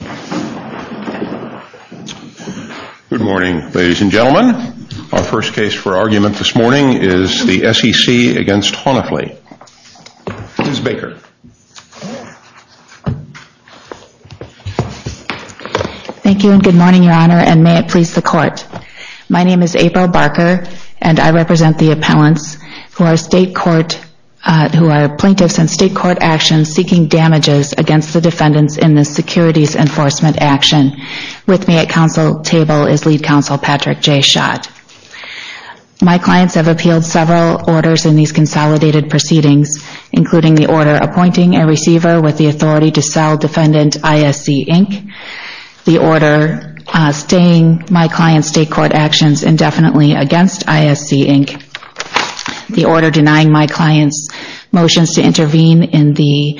Good morning, ladies and gentlemen. Our first case for argument this morning is the SEC v. Honefli. Ms. Baker. Thank you and good morning, Your Honor, and may it please the Court. My name is April Barker, and I represent the appellants who are plaintiffs in state court action seeking damages against the defendants in the Securities Enforcement Action. With me at counsel table is Lead Counsel Patrick J. Schott. My clients have appealed several orders in these consolidated proceedings, including the order appointing a receiver with the authority to sell defendant ISC, Inc., the order staying my client's state court actions indefinitely against ISC, Inc., the order denying my client's motions to intervene in the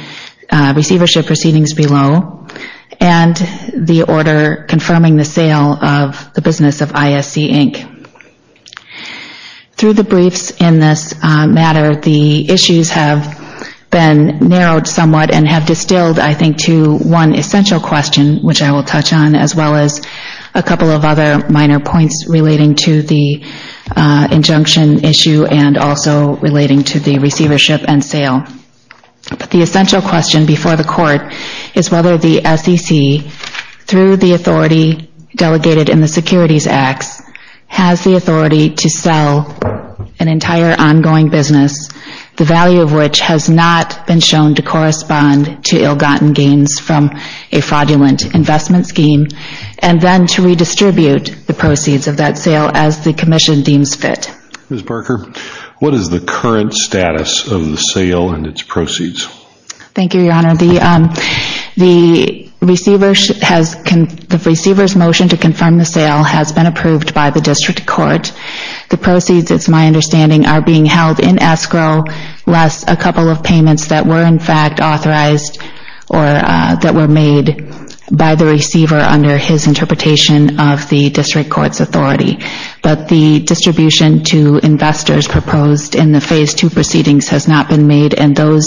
receivership proceedings below, and the order confirming the sale of the business of ISC, Inc. Through the briefs in this matter, the issues have been narrowed somewhat and have distilled, I think, to one essential question, which I will touch on, as well as a couple of other minor points relating to the injunction issue and also relating to the receivership and sale. The essential question before the Court is whether the SEC, through the authority delegated in the Securities Act, has the authority to sell an entire ongoing business, the value of which has not been shown to correspond to ill-gotten gains from a fraudulent investment scheme, and then to redistribute the proceeds of that sale and its proceeds. Thank you, Your Honor. The receiver's motion to confirm the sale has been approved by the District Court. The proceeds, it's my understanding, are being held in escrow, plus a couple of payments that were, in fact, authorized or that were made by the receiver under his interpretation of the District Court's authority. But the receipt of proceedings has not been made, and those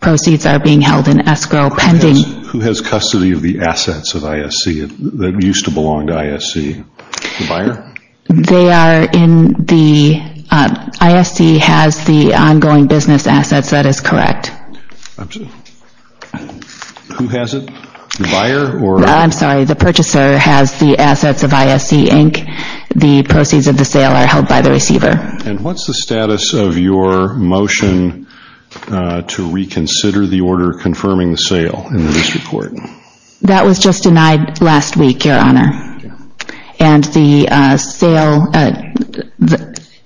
proceeds are being held in escrow pending. Who has custody of the assets of ISC that used to belong to ISC? The buyer? They are in the, ISC has the ongoing business assets, that is correct. Who has it? The buyer? I'm sorry, the purchaser has the assets of ISC, Inc. The proceeds of the sale are held by the receiver. And what's the status of your motion to reconsider the order confirming the sale in the District Court? That was just denied last week, Your Honor. And the sale,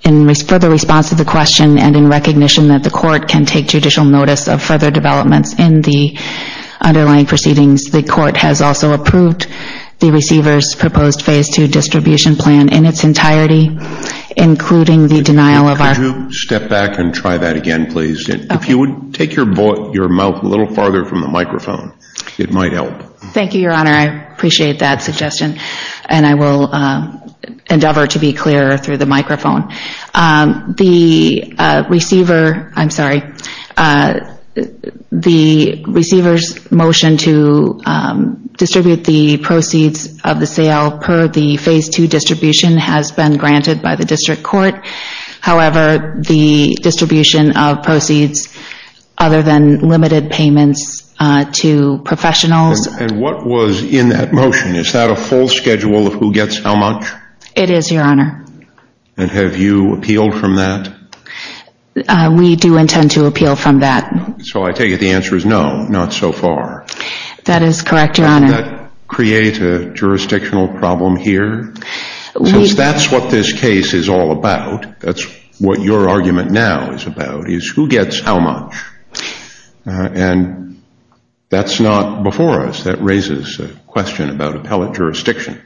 in further response to the question and in recognition that the court can take judicial notice of further developments in the underlying proceedings, the court has also approved the including the denial of our... Could you step back and try that again, please? If you would take your mouth a little farther from the microphone, it might help. Thank you, Your Honor. I appreciate that suggestion, and I will endeavor to be clearer through the microphone. The receiver, I'm sorry, the receiver's motion to distribute the proceeds of the sale per the Phase 2 distribution has been granted by the District Court. However, the distribution of proceeds other than limited payments to professionals... And what was in that motion? Is that a full schedule of who gets how much? It is, Your Honor. And have you appealed from that? We do intend to appeal from that. So I take it the answer is no, not so far. That is correct, Your Honor. Does that create a jurisdictional problem here? Since that's what this case is all about, that's what your argument now is about, is who gets how much? And that's not before us. That raises a question about appellate jurisdiction.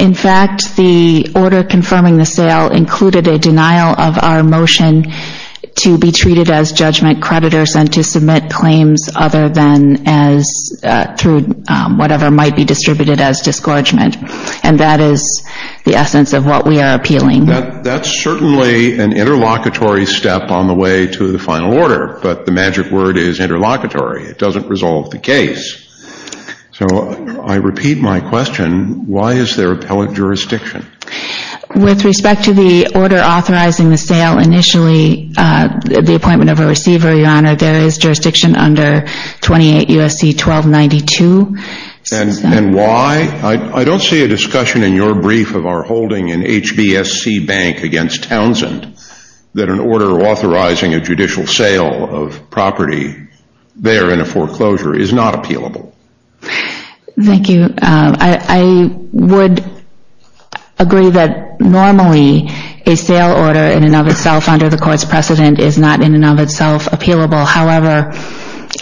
In fact, the order confirming the sale included a denial of our motion to be treated as judgment creditors and to submit claims other than as through whatever might be distributed as discouragement. And that is the essence of what we are appealing. That's certainly an interlocutory step on the way to the final order, but the magic word is interlocutory. It doesn't resolve the case. So I repeat my question. Why is there appellate jurisdiction? With respect to the order authorizing the sale initially, the appointment of a receiver, Your Honor, there is jurisdiction under 28 U.S.C. 1292. And why? I don't see a discussion in your brief of our holding an HBSC bank against Townsend that an order authorizing a judicial sale of property there in a foreclosure is not appealable. Thank you. I would agree that normally a sale order in and of itself under the court's precedent is not in and of itself appealable. However,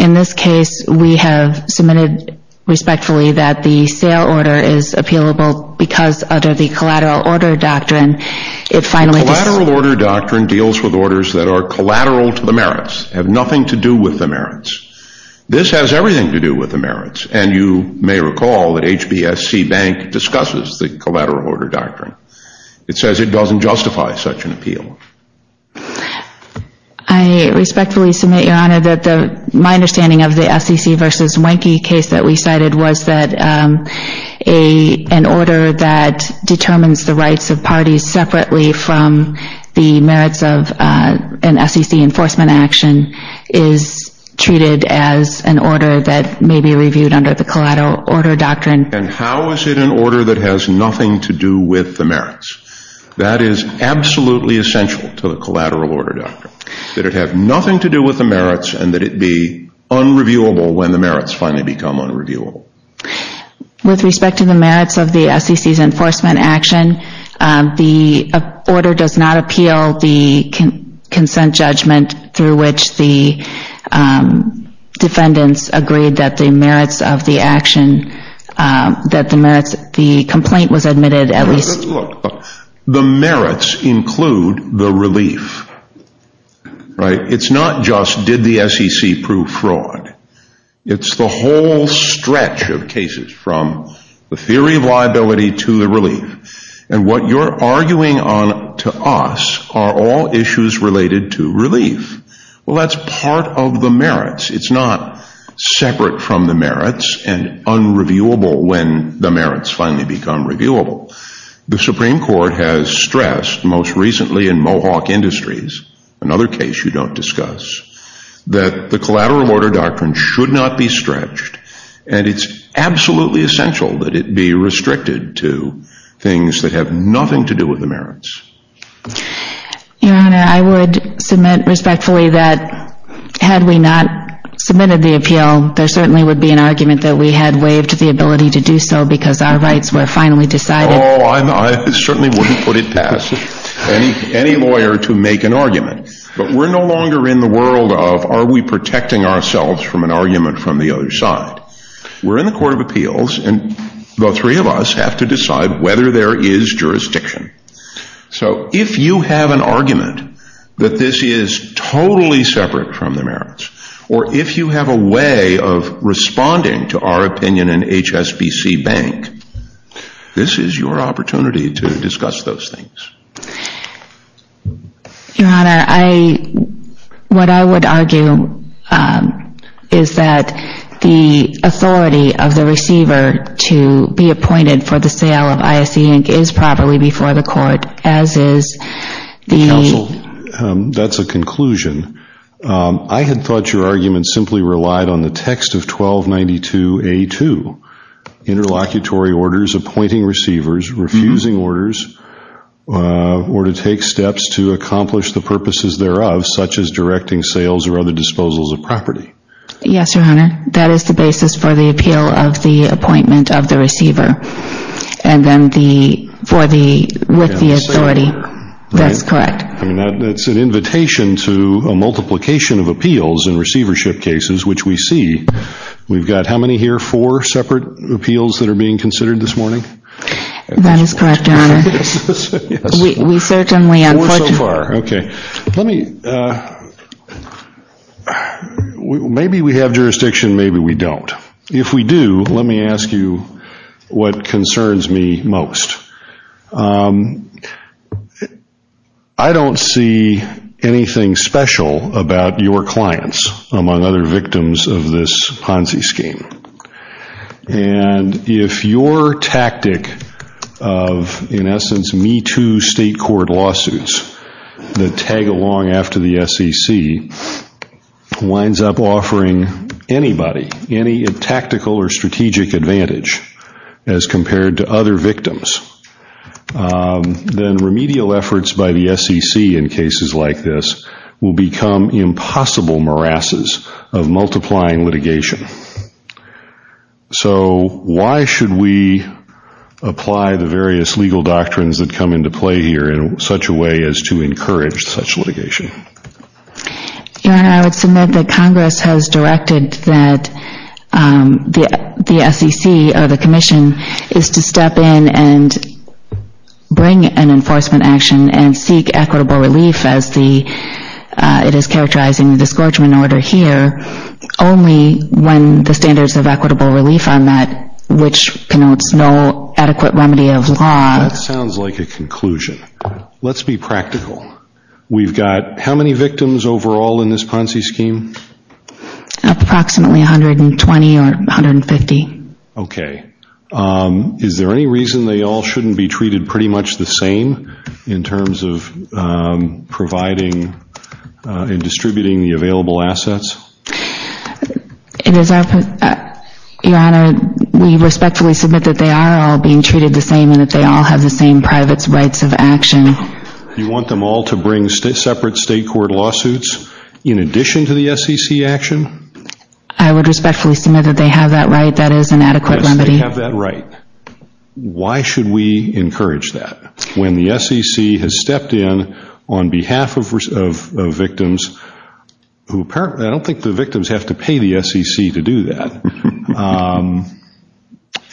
in this case, we have submitted respectfully that the sale order is appealable because under the collateral order doctrine, it finally Collateral order doctrine deals with orders that are collateral to the merits, have nothing to do with the merits. This has everything to do with the merits. And you may recall that HBSC bank discusses the collateral order doctrine. It says it doesn't justify such an appeal. I respectfully submit, Your Honor, that my understanding of the SEC v. Wenke case that we cited was that an order that determines the rights of parties separately from the merits of an SEC enforcement action is treated as an order that may be reviewed under the collateral order doctrine. And how is it an order that has nothing to do with the merits? That is absolutely essential to the collateral order doctrine, that it have nothing to do with the merits and that it be unreviewable when the merits finally become unreviewable. With respect to the merits of the SEC's enforcement action, the order does not appeal the consent judgment through which the defendants agreed that the merits of the action, that the merits, the complaint was admitted at least. The merits include the relief, right? It's not just did the SEC prove fraud. It's the whole stretch of cases from the theory of liability to the relief. And what you're arguing on to us are all issues related to relief. Well, that's part of the merits. It's not separate from the merits and unreviewable when the merits finally become reviewable. The Supreme Court has stressed most recently in Mohawk Industries, another case you don't discuss, that the collateral order doctrine should not be stretched and it's absolutely essential that it be restricted to things that have nothing to do with the merits. Your Honor, I would submit respectfully that had we not submitted the appeal, there certainly would be an argument that we had waived the ability to do so because our rights were finally decided. Oh, I certainly wouldn't put it past any lawyer to make an argument. But we're no longer in the world of are we protecting ourselves from an argument from the other side. We're in the Court of Appeals and the three of us have to decide whether there is jurisdiction. So if you have an argument that this is totally separate from the merits, or if you have a way of responding to our opinion in HSBC Bank, this is your opportunity to discuss those things. Your Honor, what I would argue is that the authority of the receiver to be appointed for the sale of ISC Inc. is properly before the court, as is the... Counsel, that's a conclusion. I had thought your argument simply relied on the text of or to take steps to accomplish the purposes thereof, such as directing sales or other disposals of property. Yes, Your Honor. That is the basis for the appeal of the appointment of the receiver. And then the...for the...with the authority. That's correct. I mean, that's an invitation to a multiplication of appeals in receivership cases, which we see. We've got how many here? Four separate appeals that are being considered this morning? That is correct, Your Honor. Yes. We certainly... Four so far. Okay. Let me...maybe we have jurisdiction, maybe we don't. If we do, let me ask you what concerns me most. I don't see anything special about your clients, among other victims of this Ponzi scheme. And if your tactic of, in essence, Me Too state court lawsuits that tag along after the SEC winds up offering anybody any tactical or strategic advantage as compared to other victims, then remedial efforts by the SEC in cases like this will become impossible morasses of multiplying litigation. So why should we apply the various legal doctrines that come into play here in such a way as to encourage such litigation? Your Honor, I would submit that Congress has directed that the SEC or the Commission is to step in and bring an enforcement action and seek equitable relief as the...it is characterizing the disgorgement order here, only when the standards of equitable relief are met, which connotes no adequate remedy of law. That sounds like a conclusion. Let's be practical. We've got how many victims overall in this Ponzi scheme? Approximately 120 or 150. Okay. Is there any reason they all shouldn't be treated pretty much the same in terms of providing and distributing the available assets? Your Honor, we respectfully submit that they are all being treated the same and that they all have the same private rights of action. You want them all to bring separate state court lawsuits in addition to the SEC action? I would respectfully submit that they have that right. That is an adequate remedy. Yes, they have that right. Why should we encourage that? When the SEC has stepped in on behalf of victims, who apparently...I don't think the victims have to pay the SEC to do that,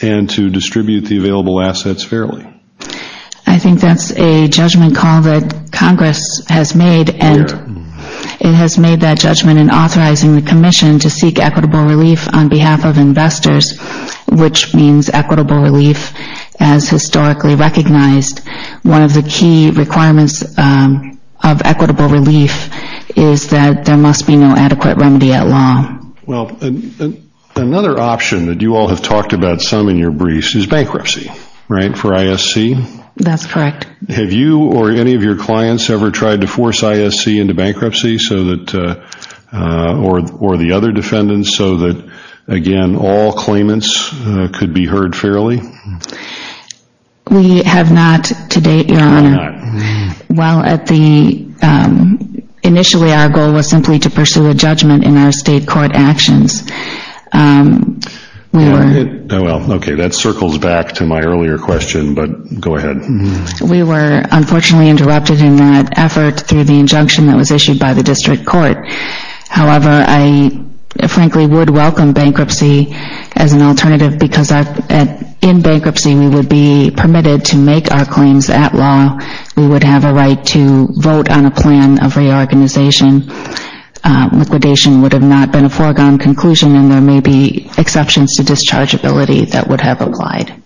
and to distribute the available assets fairly. I think that's a judgment call that Congress has made and it has made that judgment in the commission to seek equitable relief on behalf of investors, which means equitable relief as historically recognized. One of the key requirements of equitable relief is that there must be no adequate remedy at law. Well, another option that you all have talked about some in your briefs is bankruptcy for ISC, right? That's correct. Have you or any of your clients ever tried to force ISC into bankruptcy or the other defendants so that, again, all claimants could be heard fairly? We have not to date, Your Honor. We're not. Initially, our goal was simply to pursue a judgment in our state court actions. Well, okay, that circles back to my earlier question, but go ahead. We were unfortunately interrupted in that effort through the injunction that was issued by the district court. However, I frankly would welcome bankruptcy as an alternative because in bankruptcy, we would be permitted to make our claims at law. We would have a right to vote on a plan of reorganization. Liquidation would have not been a foregone conclusion and there may be exceptions to dischargeability that would have applied.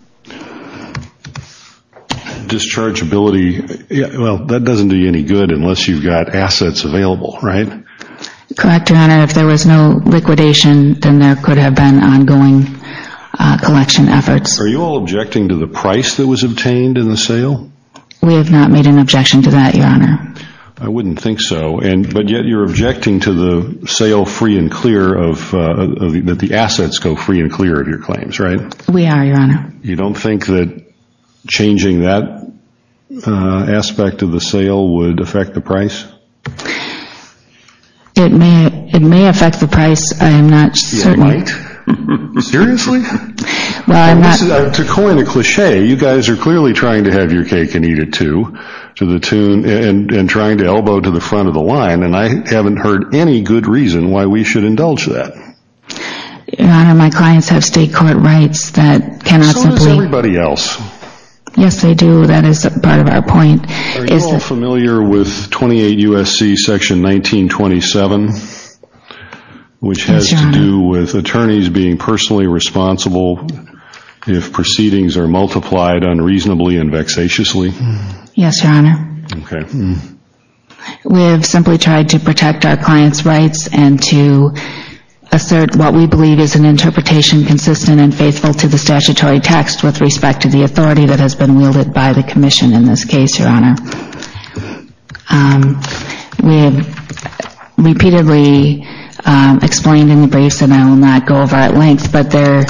Dischargeability, well, that doesn't do you any good unless you've got assets available, right? Correct, Your Honor. If there was no liquidation, then there could have been ongoing collection efforts. Are you all objecting to the price that was obtained in the sale? We have not made an objection to that, Your Honor. I wouldn't think so, but yet you're objecting to the sale free and clear, that the assets go free and clear of your claims, right? We are, Your Honor. You don't think that changing that aspect of the sale would affect the price? It may affect the price, I am not certain. It might? Seriously? Well, I'm not... To coin a cliche, you guys are clearly trying to have your cake and eat it too, and trying to elbow to the front of the line, and I haven't heard any good reason why we should indulge that. Your Honor, my clients have state court rights that cannot simply... So does everybody else. Yes, they do, that is part of our point. Are you all familiar with 28 U.S.C. Section 1927, which has to do with attorneys being personally responsible if proceedings are multiplied unreasonably and vexatiously? Yes, Your Honor. Okay. We have simply tried to protect our clients' rights and to assert what we believe is an interpretation consistent and faithful to the statutory text with respect to the authority that has been wielded by the Commission in this case, Your Honor. We have repeatedly explained in the briefs, and I will not go over at length, but the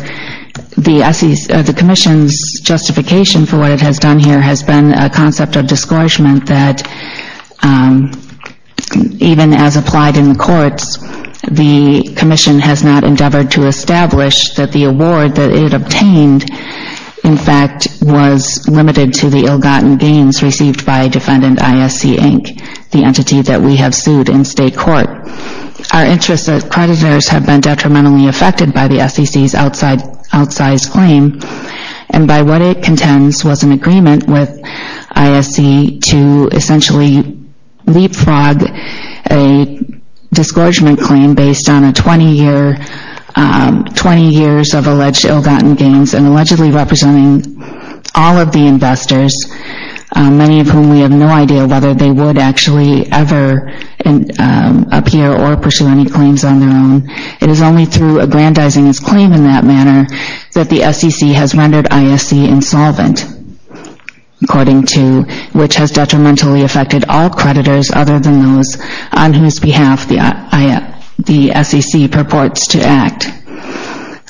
Commission's justification for what it has done here has been a concept of discouragement that even as applied in the courts, the Commission has not endeavored to establish that the award that it obtained, in fact, was limited to the ill-gotten gains received by defendant I.S.C. Inc., the entity that we have sued in state court. Our interest that creditors have been detrimentally affected by the SEC's outsized claim, and by what it contends was an agreement with I.S.C. to essentially leapfrog a discouragement claim based on 20 years of alleged ill-gotten gains and allegedly representing all of the investors, many of whom we have no idea whether they would actually ever appear or pursue any claims on their own. It is only through aggrandizing its claim in that manner that the SEC has rendered I.S.C. insolvent, according to which has detrimentally affected all creditors other than those on whose behalf the SEC purports to act.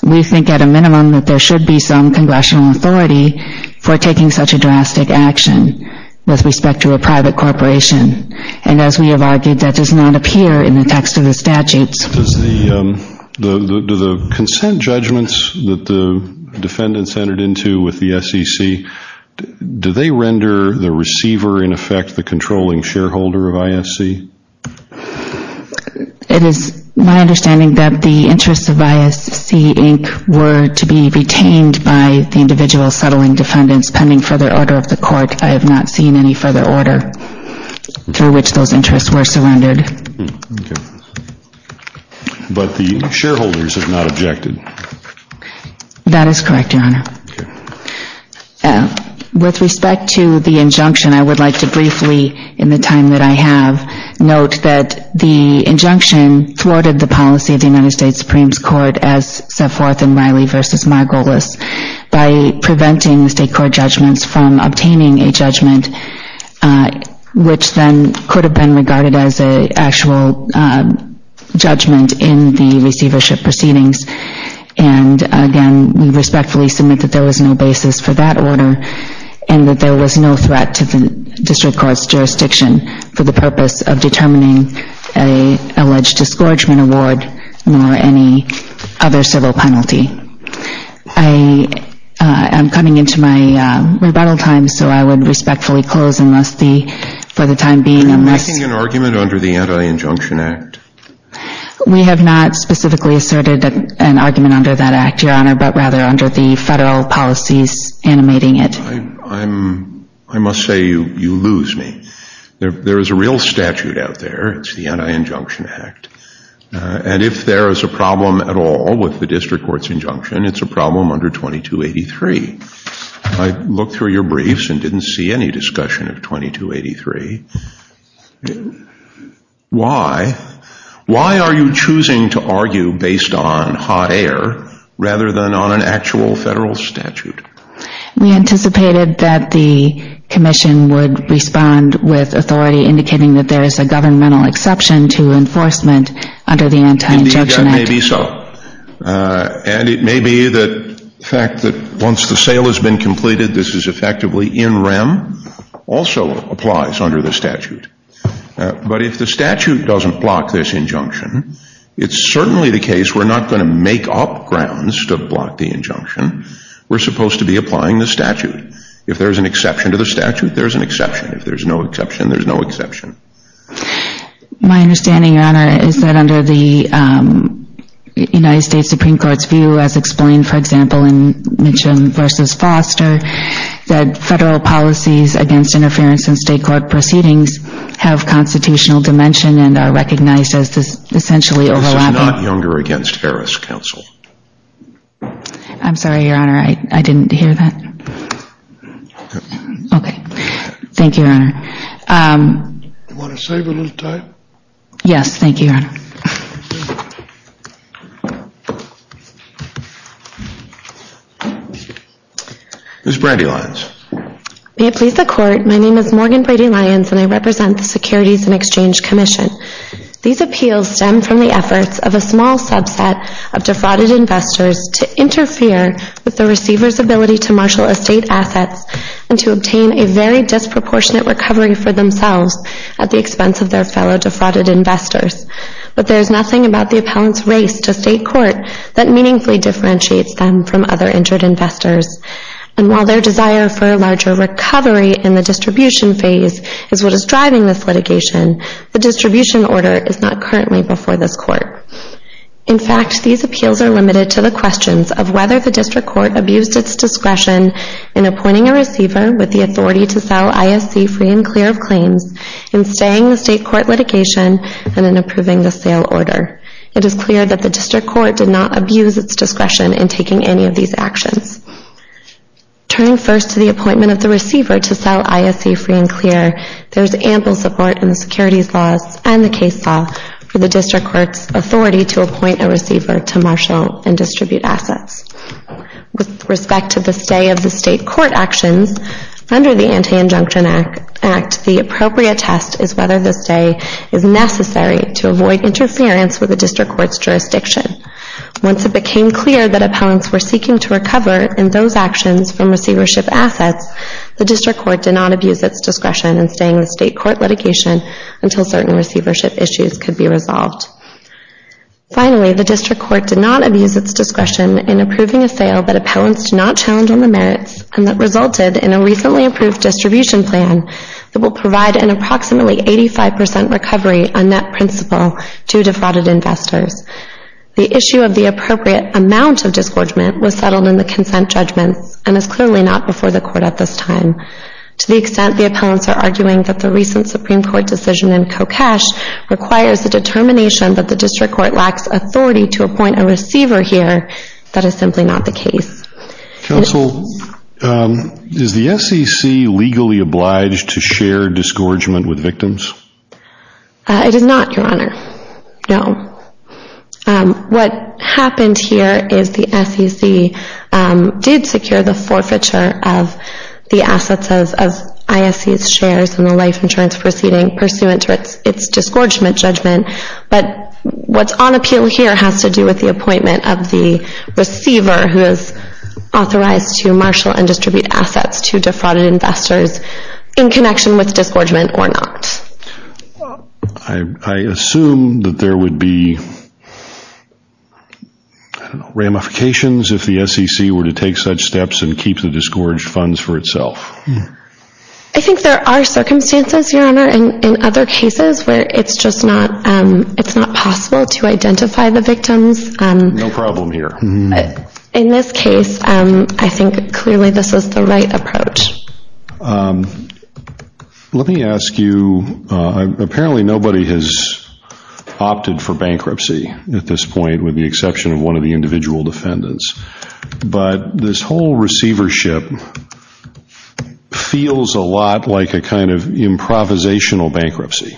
We think at a minimum that there should be some congressional authority for taking such a drastic action with respect to a private corporation, and as we have argued, that does not appear in the text of the statutes. Do the consent judgments that the defendants entered into with the SEC, do they render the receiver, in effect, the controlling shareholder of I.S.C.? It is my understanding that the interests of I.S.C. Inc. were to be retained by the individual settling defendants pending further order of the court. I have not seen any further order through which those interests were surrendered. Okay. But the shareholders have not objected. That is correct, Your Honor. Okay. With respect to the injunction, I would like to briefly, in the time that I have, note that the injunction thwarted the policy of the United States Supreme Court as set forth in Riley v. Margolis by preventing the state court judgments from obtaining a judgment which then could have been regarded as an actual judgment in the receivership proceedings. And again, we respectfully submit that there was no basis for that order and that there was no threat to the district court's jurisdiction for the purpose of determining an alleged discouragement award nor any other civil penalty. I am coming into my rebuttal time, so I would respectfully close for the time being. Are you making an argument under the Anti-Injunction Act? We have not specifically asserted an argument under that act, Your Honor, but rather under the federal policies animating it. I must say, you lose me. There is a real statute out there. It's the Anti-Injunction Act. And if there is a problem at all with the district court's injunction, it's a problem under 2283. I looked through your briefs and didn't see any discussion of 2283. Why? Why are you choosing to argue based on hot air rather than on an actual federal statute? We anticipated that the commission would respond with authority indicating that there is a discouragement under the Anti-Injunction Act. And it may be so. And it may be the fact that once the sale has been completed, this is effectively in rem, also applies under the statute. But if the statute doesn't block this injunction, it's certainly the case we're not going to make up grounds to block the injunction. We're supposed to be applying the statute. If there's an exception to the statute, there's an exception. If there's no exception, there's no exception. My understanding, Your Honor, is that under the United States Supreme Court's view, as explained, for example, in Mitchum v. Foster, that federal policies against interference in state court proceedings have constitutional dimension and are recognized as essentially overlapping. This is not Younger against Harris Council. I'm sorry, Your Honor. Okay. Thank you, Your Honor. Do you want to save a little time? Yes, thank you, Your Honor. Ms. Brady-Lyons. May it please the Court, my name is Morgan Brady-Lyons and I represent the Securities and Exchange Commission. These appeals stem from the efforts of a small subset of defrauded investors to interfere with the receiver's ability to marshal estate assets and to obtain a very disproportionate recovery for themselves at the expense of their fellow defrauded investors. But there's nothing about the appellant's race to state court that meaningfully differentiates them from other injured investors. And while their desire for a larger recovery in the distribution phase is what is driving this litigation, the distribution order is not currently before this Court. In fact, these appeals are limited to the questions of whether the District Court abused its discretion in appointing a receiver with the authority to sell ISC free and clear of claims, in staying the state court litigation, and in approving the sale order. It is clear that the District Court did not abuse its discretion in taking any of these actions. Turning first to the appointment of the receiver to sell ISC free and clear, there is ample support in the securities laws and the case law for the District Court's authority to appoint a receiver to marshal and distribute assets. With respect to the stay of the state court actions, under the Anti-Injunction Act, the appropriate test is whether the stay is necessary to avoid interference with the District Court's jurisdiction. Once it became clear that appellants were seeking to recover in those actions from receivership assets, the District Court did not abuse its discretion in staying the state court litigation until certain receivership issues could be resolved. Finally, the District Court did not abuse its discretion in approving a sale that appellants did not challenge on the merits and that resulted in a recently approved distribution plan that will provide an approximately 85% recovery on net principal to defrauded investors. The issue of the appropriate amount of disgorgement was settled in the consent judgment and is clearly not before the Court at this time. To the extent the appellants are arguing that the recent Supreme Court decision in CoCash requires the determination that the District Court lacks authority to appoint a receiver here, that is simply not the case. Counsel, is the SEC legally obliged to share disgorgement with victims? It is not, Your Honor. No. What happened here is the SEC did secure the forfeiture of the assets of ISC's shares in its disgorgement judgment, but what's on appeal here has to do with the appointment of the receiver who is authorized to marshal and distribute assets to defrauded investors in connection with disgorgement or not. I assume that there would be ramifications if the SEC were to take such steps and keep the disgorged funds for itself. I think there are circumstances, Your Honor, in other cases where it's just not possible to identify the victims. No problem here. In this case, I think clearly this is the right approach. Let me ask you, apparently nobody has opted for bankruptcy at this point with the exception of one of the individual defendants, but this whole receivership feels a lot like a kind of improvisational bankruptcy.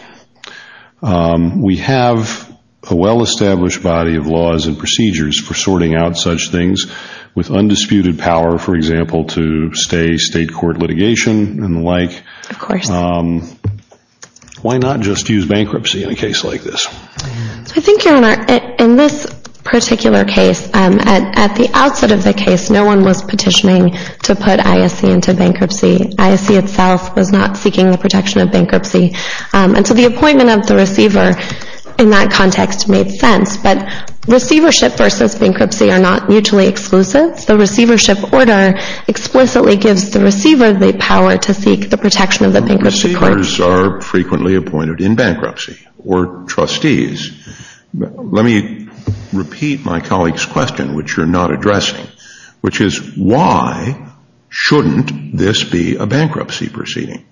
We have a well-established body of laws and procedures for sorting out such things with undisputed power, for example, to stay state court litigation and the like. Of course. Why not just use bankruptcy in a case like this? I think, Your Honor, in this particular case, at the outset of the case, no one was petitioning to put ISC into bankruptcy. ISC itself was not seeking the protection of bankruptcy. So the appointment of the receiver in that context made sense, but receivership versus bankruptcy are not mutually exclusive. The receivership order explicitly gives the receiver the power to seek the protection of the bankruptcy court. Receivers are frequently appointed in bankruptcy or trustees. Let me repeat my colleague's question, which you're not addressing, which is why shouldn't this be a bankruptcy proceeding?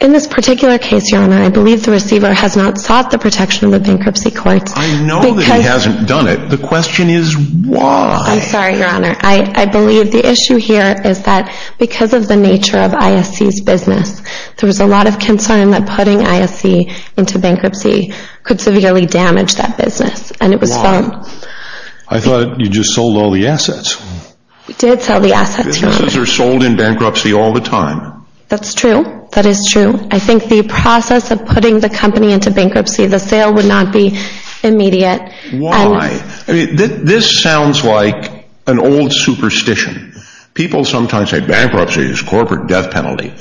In this particular case, Your Honor, I believe the receiver has not sought the protection of the bankruptcy courts. I know that he hasn't done it. The question is why? I'm sorry, Your Honor. I believe the issue here is that because of the nature of ISC's business, there was a lot of concern that putting ISC into bankruptcy could severely damage that business. Why? I thought you just sold all the assets. We did sell the assets, Your Honor. Businesses are sold in bankruptcy all the time. That's true. That is true. I think the process of putting the company into bankruptcy, the sale would not be immediate. Why? This sounds like an old superstition. People sometimes say bankruptcy is corporate death penalty.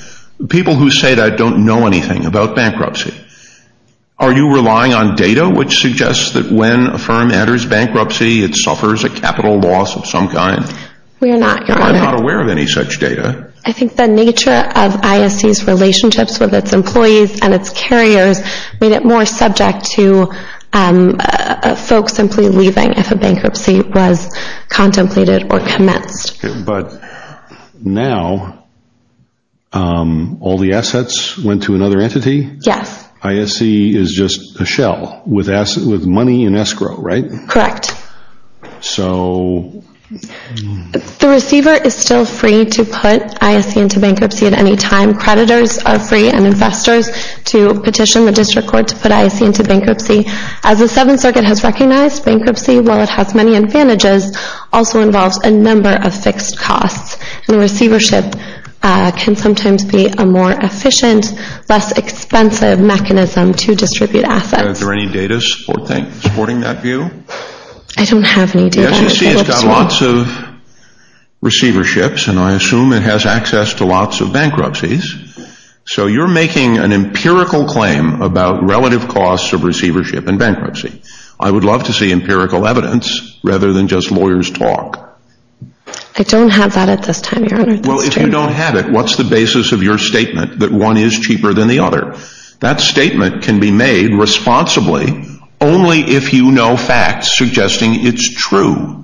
People who say that don't know anything about bankruptcy. Are you relying on data which suggests that when a firm enters bankruptcy, it suffers a capital loss of some kind? We are not, Your Honor. I'm not aware of any such data. I think the nature of ISC's relationships with its employees and its carriers made it more subject to folks simply leaving if a bankruptcy was contemplated or commenced. But now, all the assets went to another entity? Yes. ISC is just a shell with money and escrow, right? Correct. The receiver is still free to put ISC into bankruptcy at any time. Creditors are free and investors to petition the district court to put ISC into bankruptcy. As the Seventh Circuit has recognized, bankruptcy, while it has many advantages, also involves a number of fixed costs. Receivership can sometimes be a more efficient, less expensive mechanism to distribute assets. Is there any data supporting that view? I don't have any data. The SEC has got lots of receiverships and I assume it has access to lots of bankruptcies. So, you're making an empirical claim about relative costs of receivership in bankruptcy. I would love to see empirical evidence rather than just lawyers' talk. I don't have that at this time, Your Honor. Well, if you don't have it, what's the basis of your statement that one is cheaper than the other? That statement can be made responsibly only if you know facts suggesting it's true.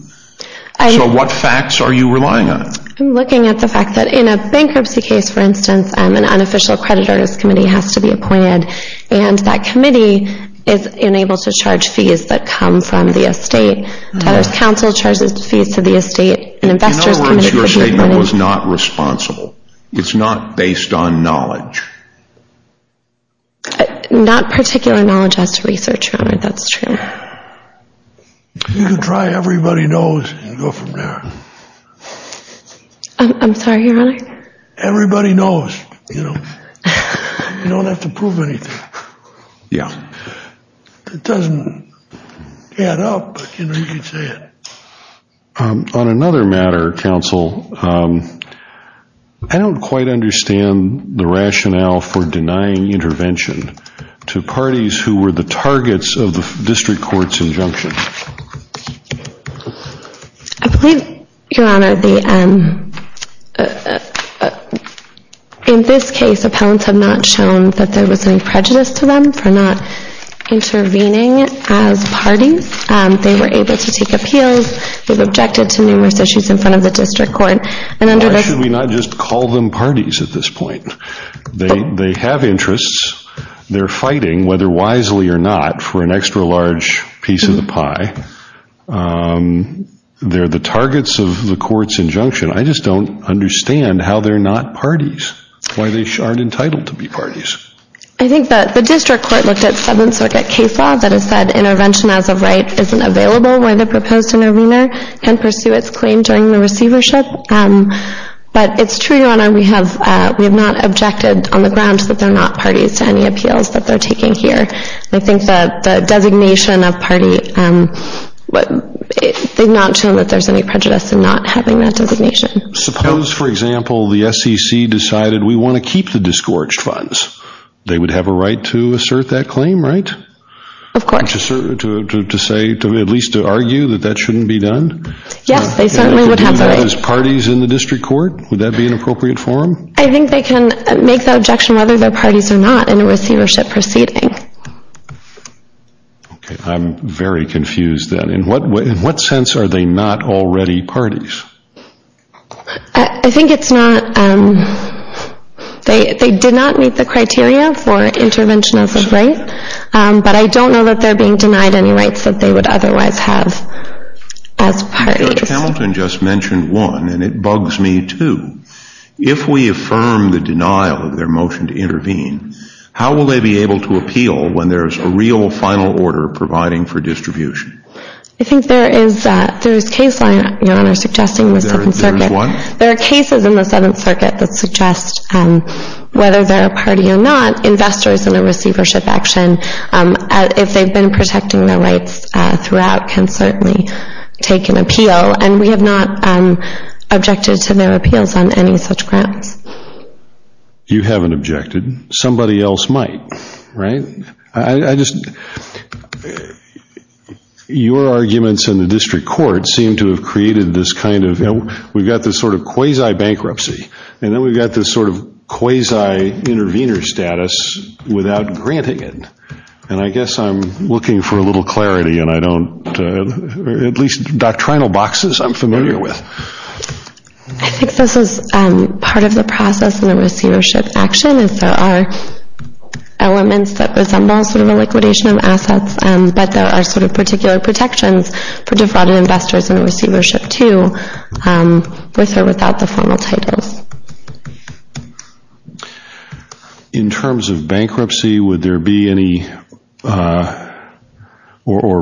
So, what facts are you relying on? I'm looking at the fact that in a bankruptcy case, for instance, an unofficial creditor's committee has to be appointed. And that committee is unable to charge fees that come from the estate. Teller's counsel charges fees to the estate. In other words, your statement was not responsible. It's not based on knowledge. Not particular knowledge as to research, Your Honor. That's true. You can try everybody knows and go from there. I'm sorry, Your Honor? Everybody knows, you know. You don't have to prove anything. Yeah. It doesn't add up, but you know, you can say it. On another matter, counsel, I don't quite understand the rationale for denying intervention to parties who were the targets of the district court's injunction. I believe, Your Honor, in this case, appellants have not shown that there was any prejudice to them for not intervening as parties. They were able to take appeals. They've objected to numerous issues in front of the district court. Why should we not just call them parties at this point? They have interests. They're fighting, whether wisely or not, for an extra large piece of the pie. They're the targets of the court's injunction. I just don't understand how they're not parties. Why they aren't entitled to be parties. I think that the district court looked at 7th Circuit case law that has said intervention as of right isn't available when the proposed intervener can pursue its claim during the receivership. But it's true, Your Honor, we have not objected on the grounds that they're not parties to any appeals that they're taking here. I think that the designation of party did not show that there's any prejudice in not having that designation. Suppose, for example, the SEC decided we want to keep the disgorged funds. They would have a right to assert that claim, right? Of course. To say, at least to argue that that shouldn't be done? Yes, they certainly would have a right. As parties in the district court, would that be an appropriate form? I think they can make the objection whether they're parties or not in a receivership proceeding. Okay, I'm very confused then. In what sense are they not already parties? I think it's not... They did not meet the criteria for intervention as of right, but I don't know that they're being denied any rights that they would otherwise have as parties. Judge Hamilton just mentioned one, and it bugs me, too. If we affirm the denial of their motion to intervene, how will they be able to appeal when there's a real final order providing for distribution? I think there is a case line, Your Honor, suggesting the Seventh Circuit. There is one? There are cases in the Seventh Circuit that suggest, whether they're a party or not, investors in a receivership action, if they've been protecting their rights throughout, can certainly take an appeal. And we have not objected to their appeals on any such grounds. You haven't objected. Somebody else might, right? I just... Your arguments in the district court seem to have created this kind of... We've got this sort of quasi-bankruptcy, and then we've got this sort of quasi-intervener status without granting it. And I guess I'm looking for a little clarity, and I don't... At least doctrinal boxes I'm familiar with. I think this is part of the process in a receivership action, and so there are elements that resemble sort of a liquidation of assets, but there are sort of particular protections for defrauded investors in a receivership, too. With or without the formal titles. In terms of bankruptcy, would there be any... Or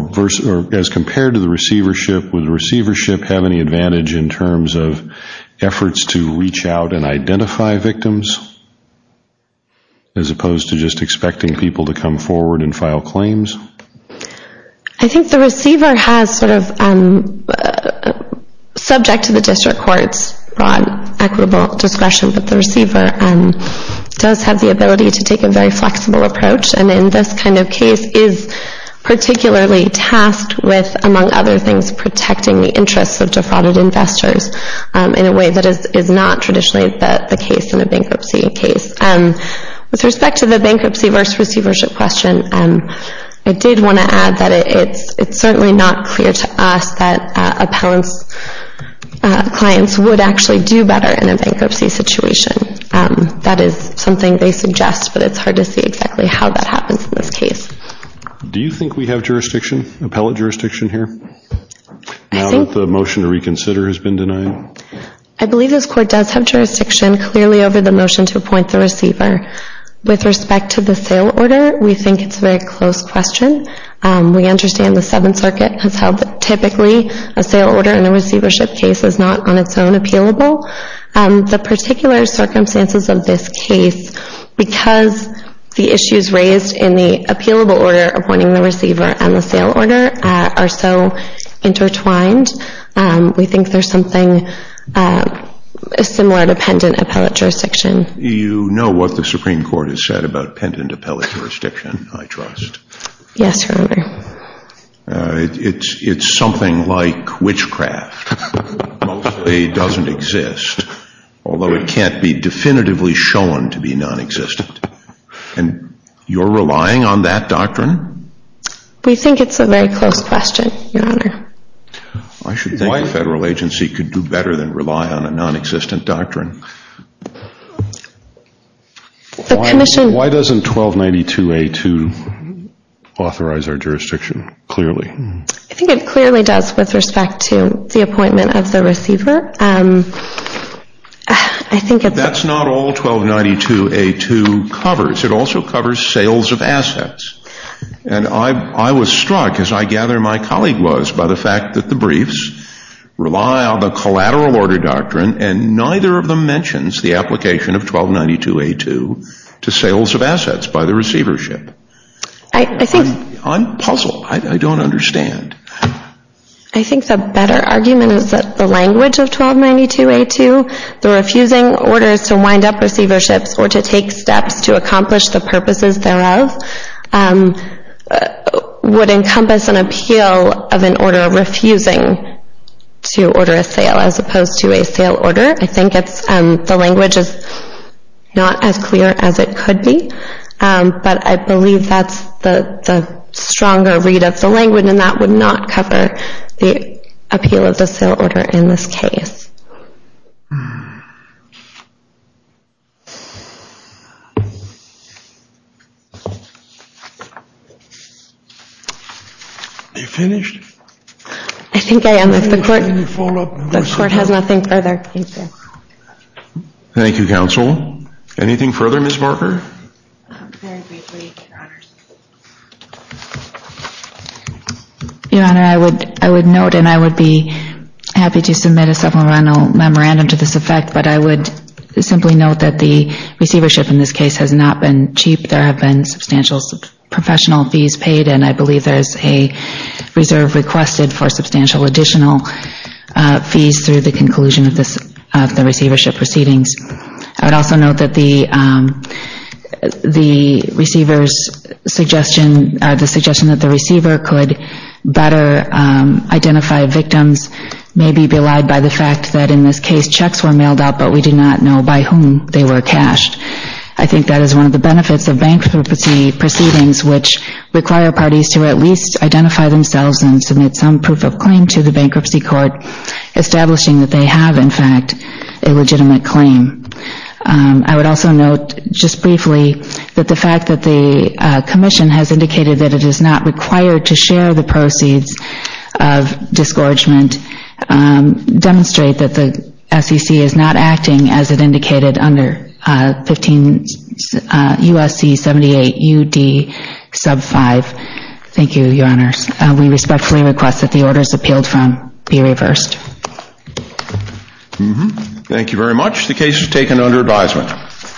as compared to the receivership, would the receivership have any advantage in terms of efforts to reach out and identify victims? As opposed to just expecting people to come forward and file claims? I think the receiver has sort of... Subject to the district court's broad equitable discretion, but the receiver does have the ability to take a very flexible approach, and in this kind of case is particularly tasked with, among other things, protecting the interests of defrauded investors in a way that is not traditionally the case in a bankruptcy case. With respect to the bankruptcy versus receivership question, I did want to add that it's certainly not clear to us that appellant's clients would actually do better in a bankruptcy situation. That is something they suggest, but it's hard to see exactly how that happens in this case. Do you think we have jurisdiction? Appellate jurisdiction here? Now that the motion to reconsider has been denied? I believe this court does have jurisdiction clearly over the motion to appoint the receiver. With respect to the sale order, we think it's a very close question. We understand the Seventh Circuit has held that typically a sale order and a receivership case is not on its own appealable. The particular circumstances of this case, because the issues raised in the appealable order appointing the receiver and the sale order are so intertwined, we think there's something similar dependent appellate jurisdiction. You know what the Supreme Court has said about dependent appellate jurisdiction, I trust. Yes, Your Honor. It's something like witchcraft. It mostly doesn't exist, although it can't be definitively shown to be non-existent. And you're relying on that doctrine? We think it's a very close question, Your Honor. I should think a federal agency could do better than rely on a non-existent doctrine. Why doesn't 1292A2 authorize our jurisdiction clearly? I think it clearly does with respect to the appointment of the receiver. That's not all 1292A2 covers. It also covers sales of assets. And I was struck, as I gather my colleague was, by the fact that the briefs rely on the collateral order doctrine and neither of them mentions the application of 1292A2 to sales of assets by the receivership. I'm puzzled. I don't understand. I think the better argument is that the language of 1292A2, the refusing orders to wind up receiverships or to take steps to accomplish the purposes thereof, would encompass an appeal of an order refusing to order a sale as opposed to a sale order. I think the language is not as clear as it could be. But I believe that's the stronger read of the language and that would not cover the appeal of the sale order in this case. Are you finished? I think I am. The court has nothing further. Thank you, counsel. Anything further, Ms. Barker? Your Honor, I would note and I would be happy to submit a supplemental memorandum to this effect, but I would simply note that the receivership in this case has not been cheap. There have been substantial professional fees paid and I believe there is a reserve requested for substantial additional fees through the conclusion of the receivership proceedings. I would also note that the receiver's suggestion, the suggestion that the receiver could better identify victims may be belied by the fact that in this case checks were mailed out, but we do not know by whom they were cashed. I think that is one of the benefits of bankruptcy proceedings which require parties to at least identify themselves and submit some proof of claim to the bankruptcy court, establishing that they have, in fact, a legitimate claim. I would also note, just briefly, that the fact that the Commission has indicated that it is not required to share the proceeds of discouragement demonstrate that the SEC is not acting, as it indicated under U.S.C. 78 U.D. sub 5. Thank you, Your Honors. We respectfully request that the orders appealed from be reversed. Thank you very much. The case is taken under advisement.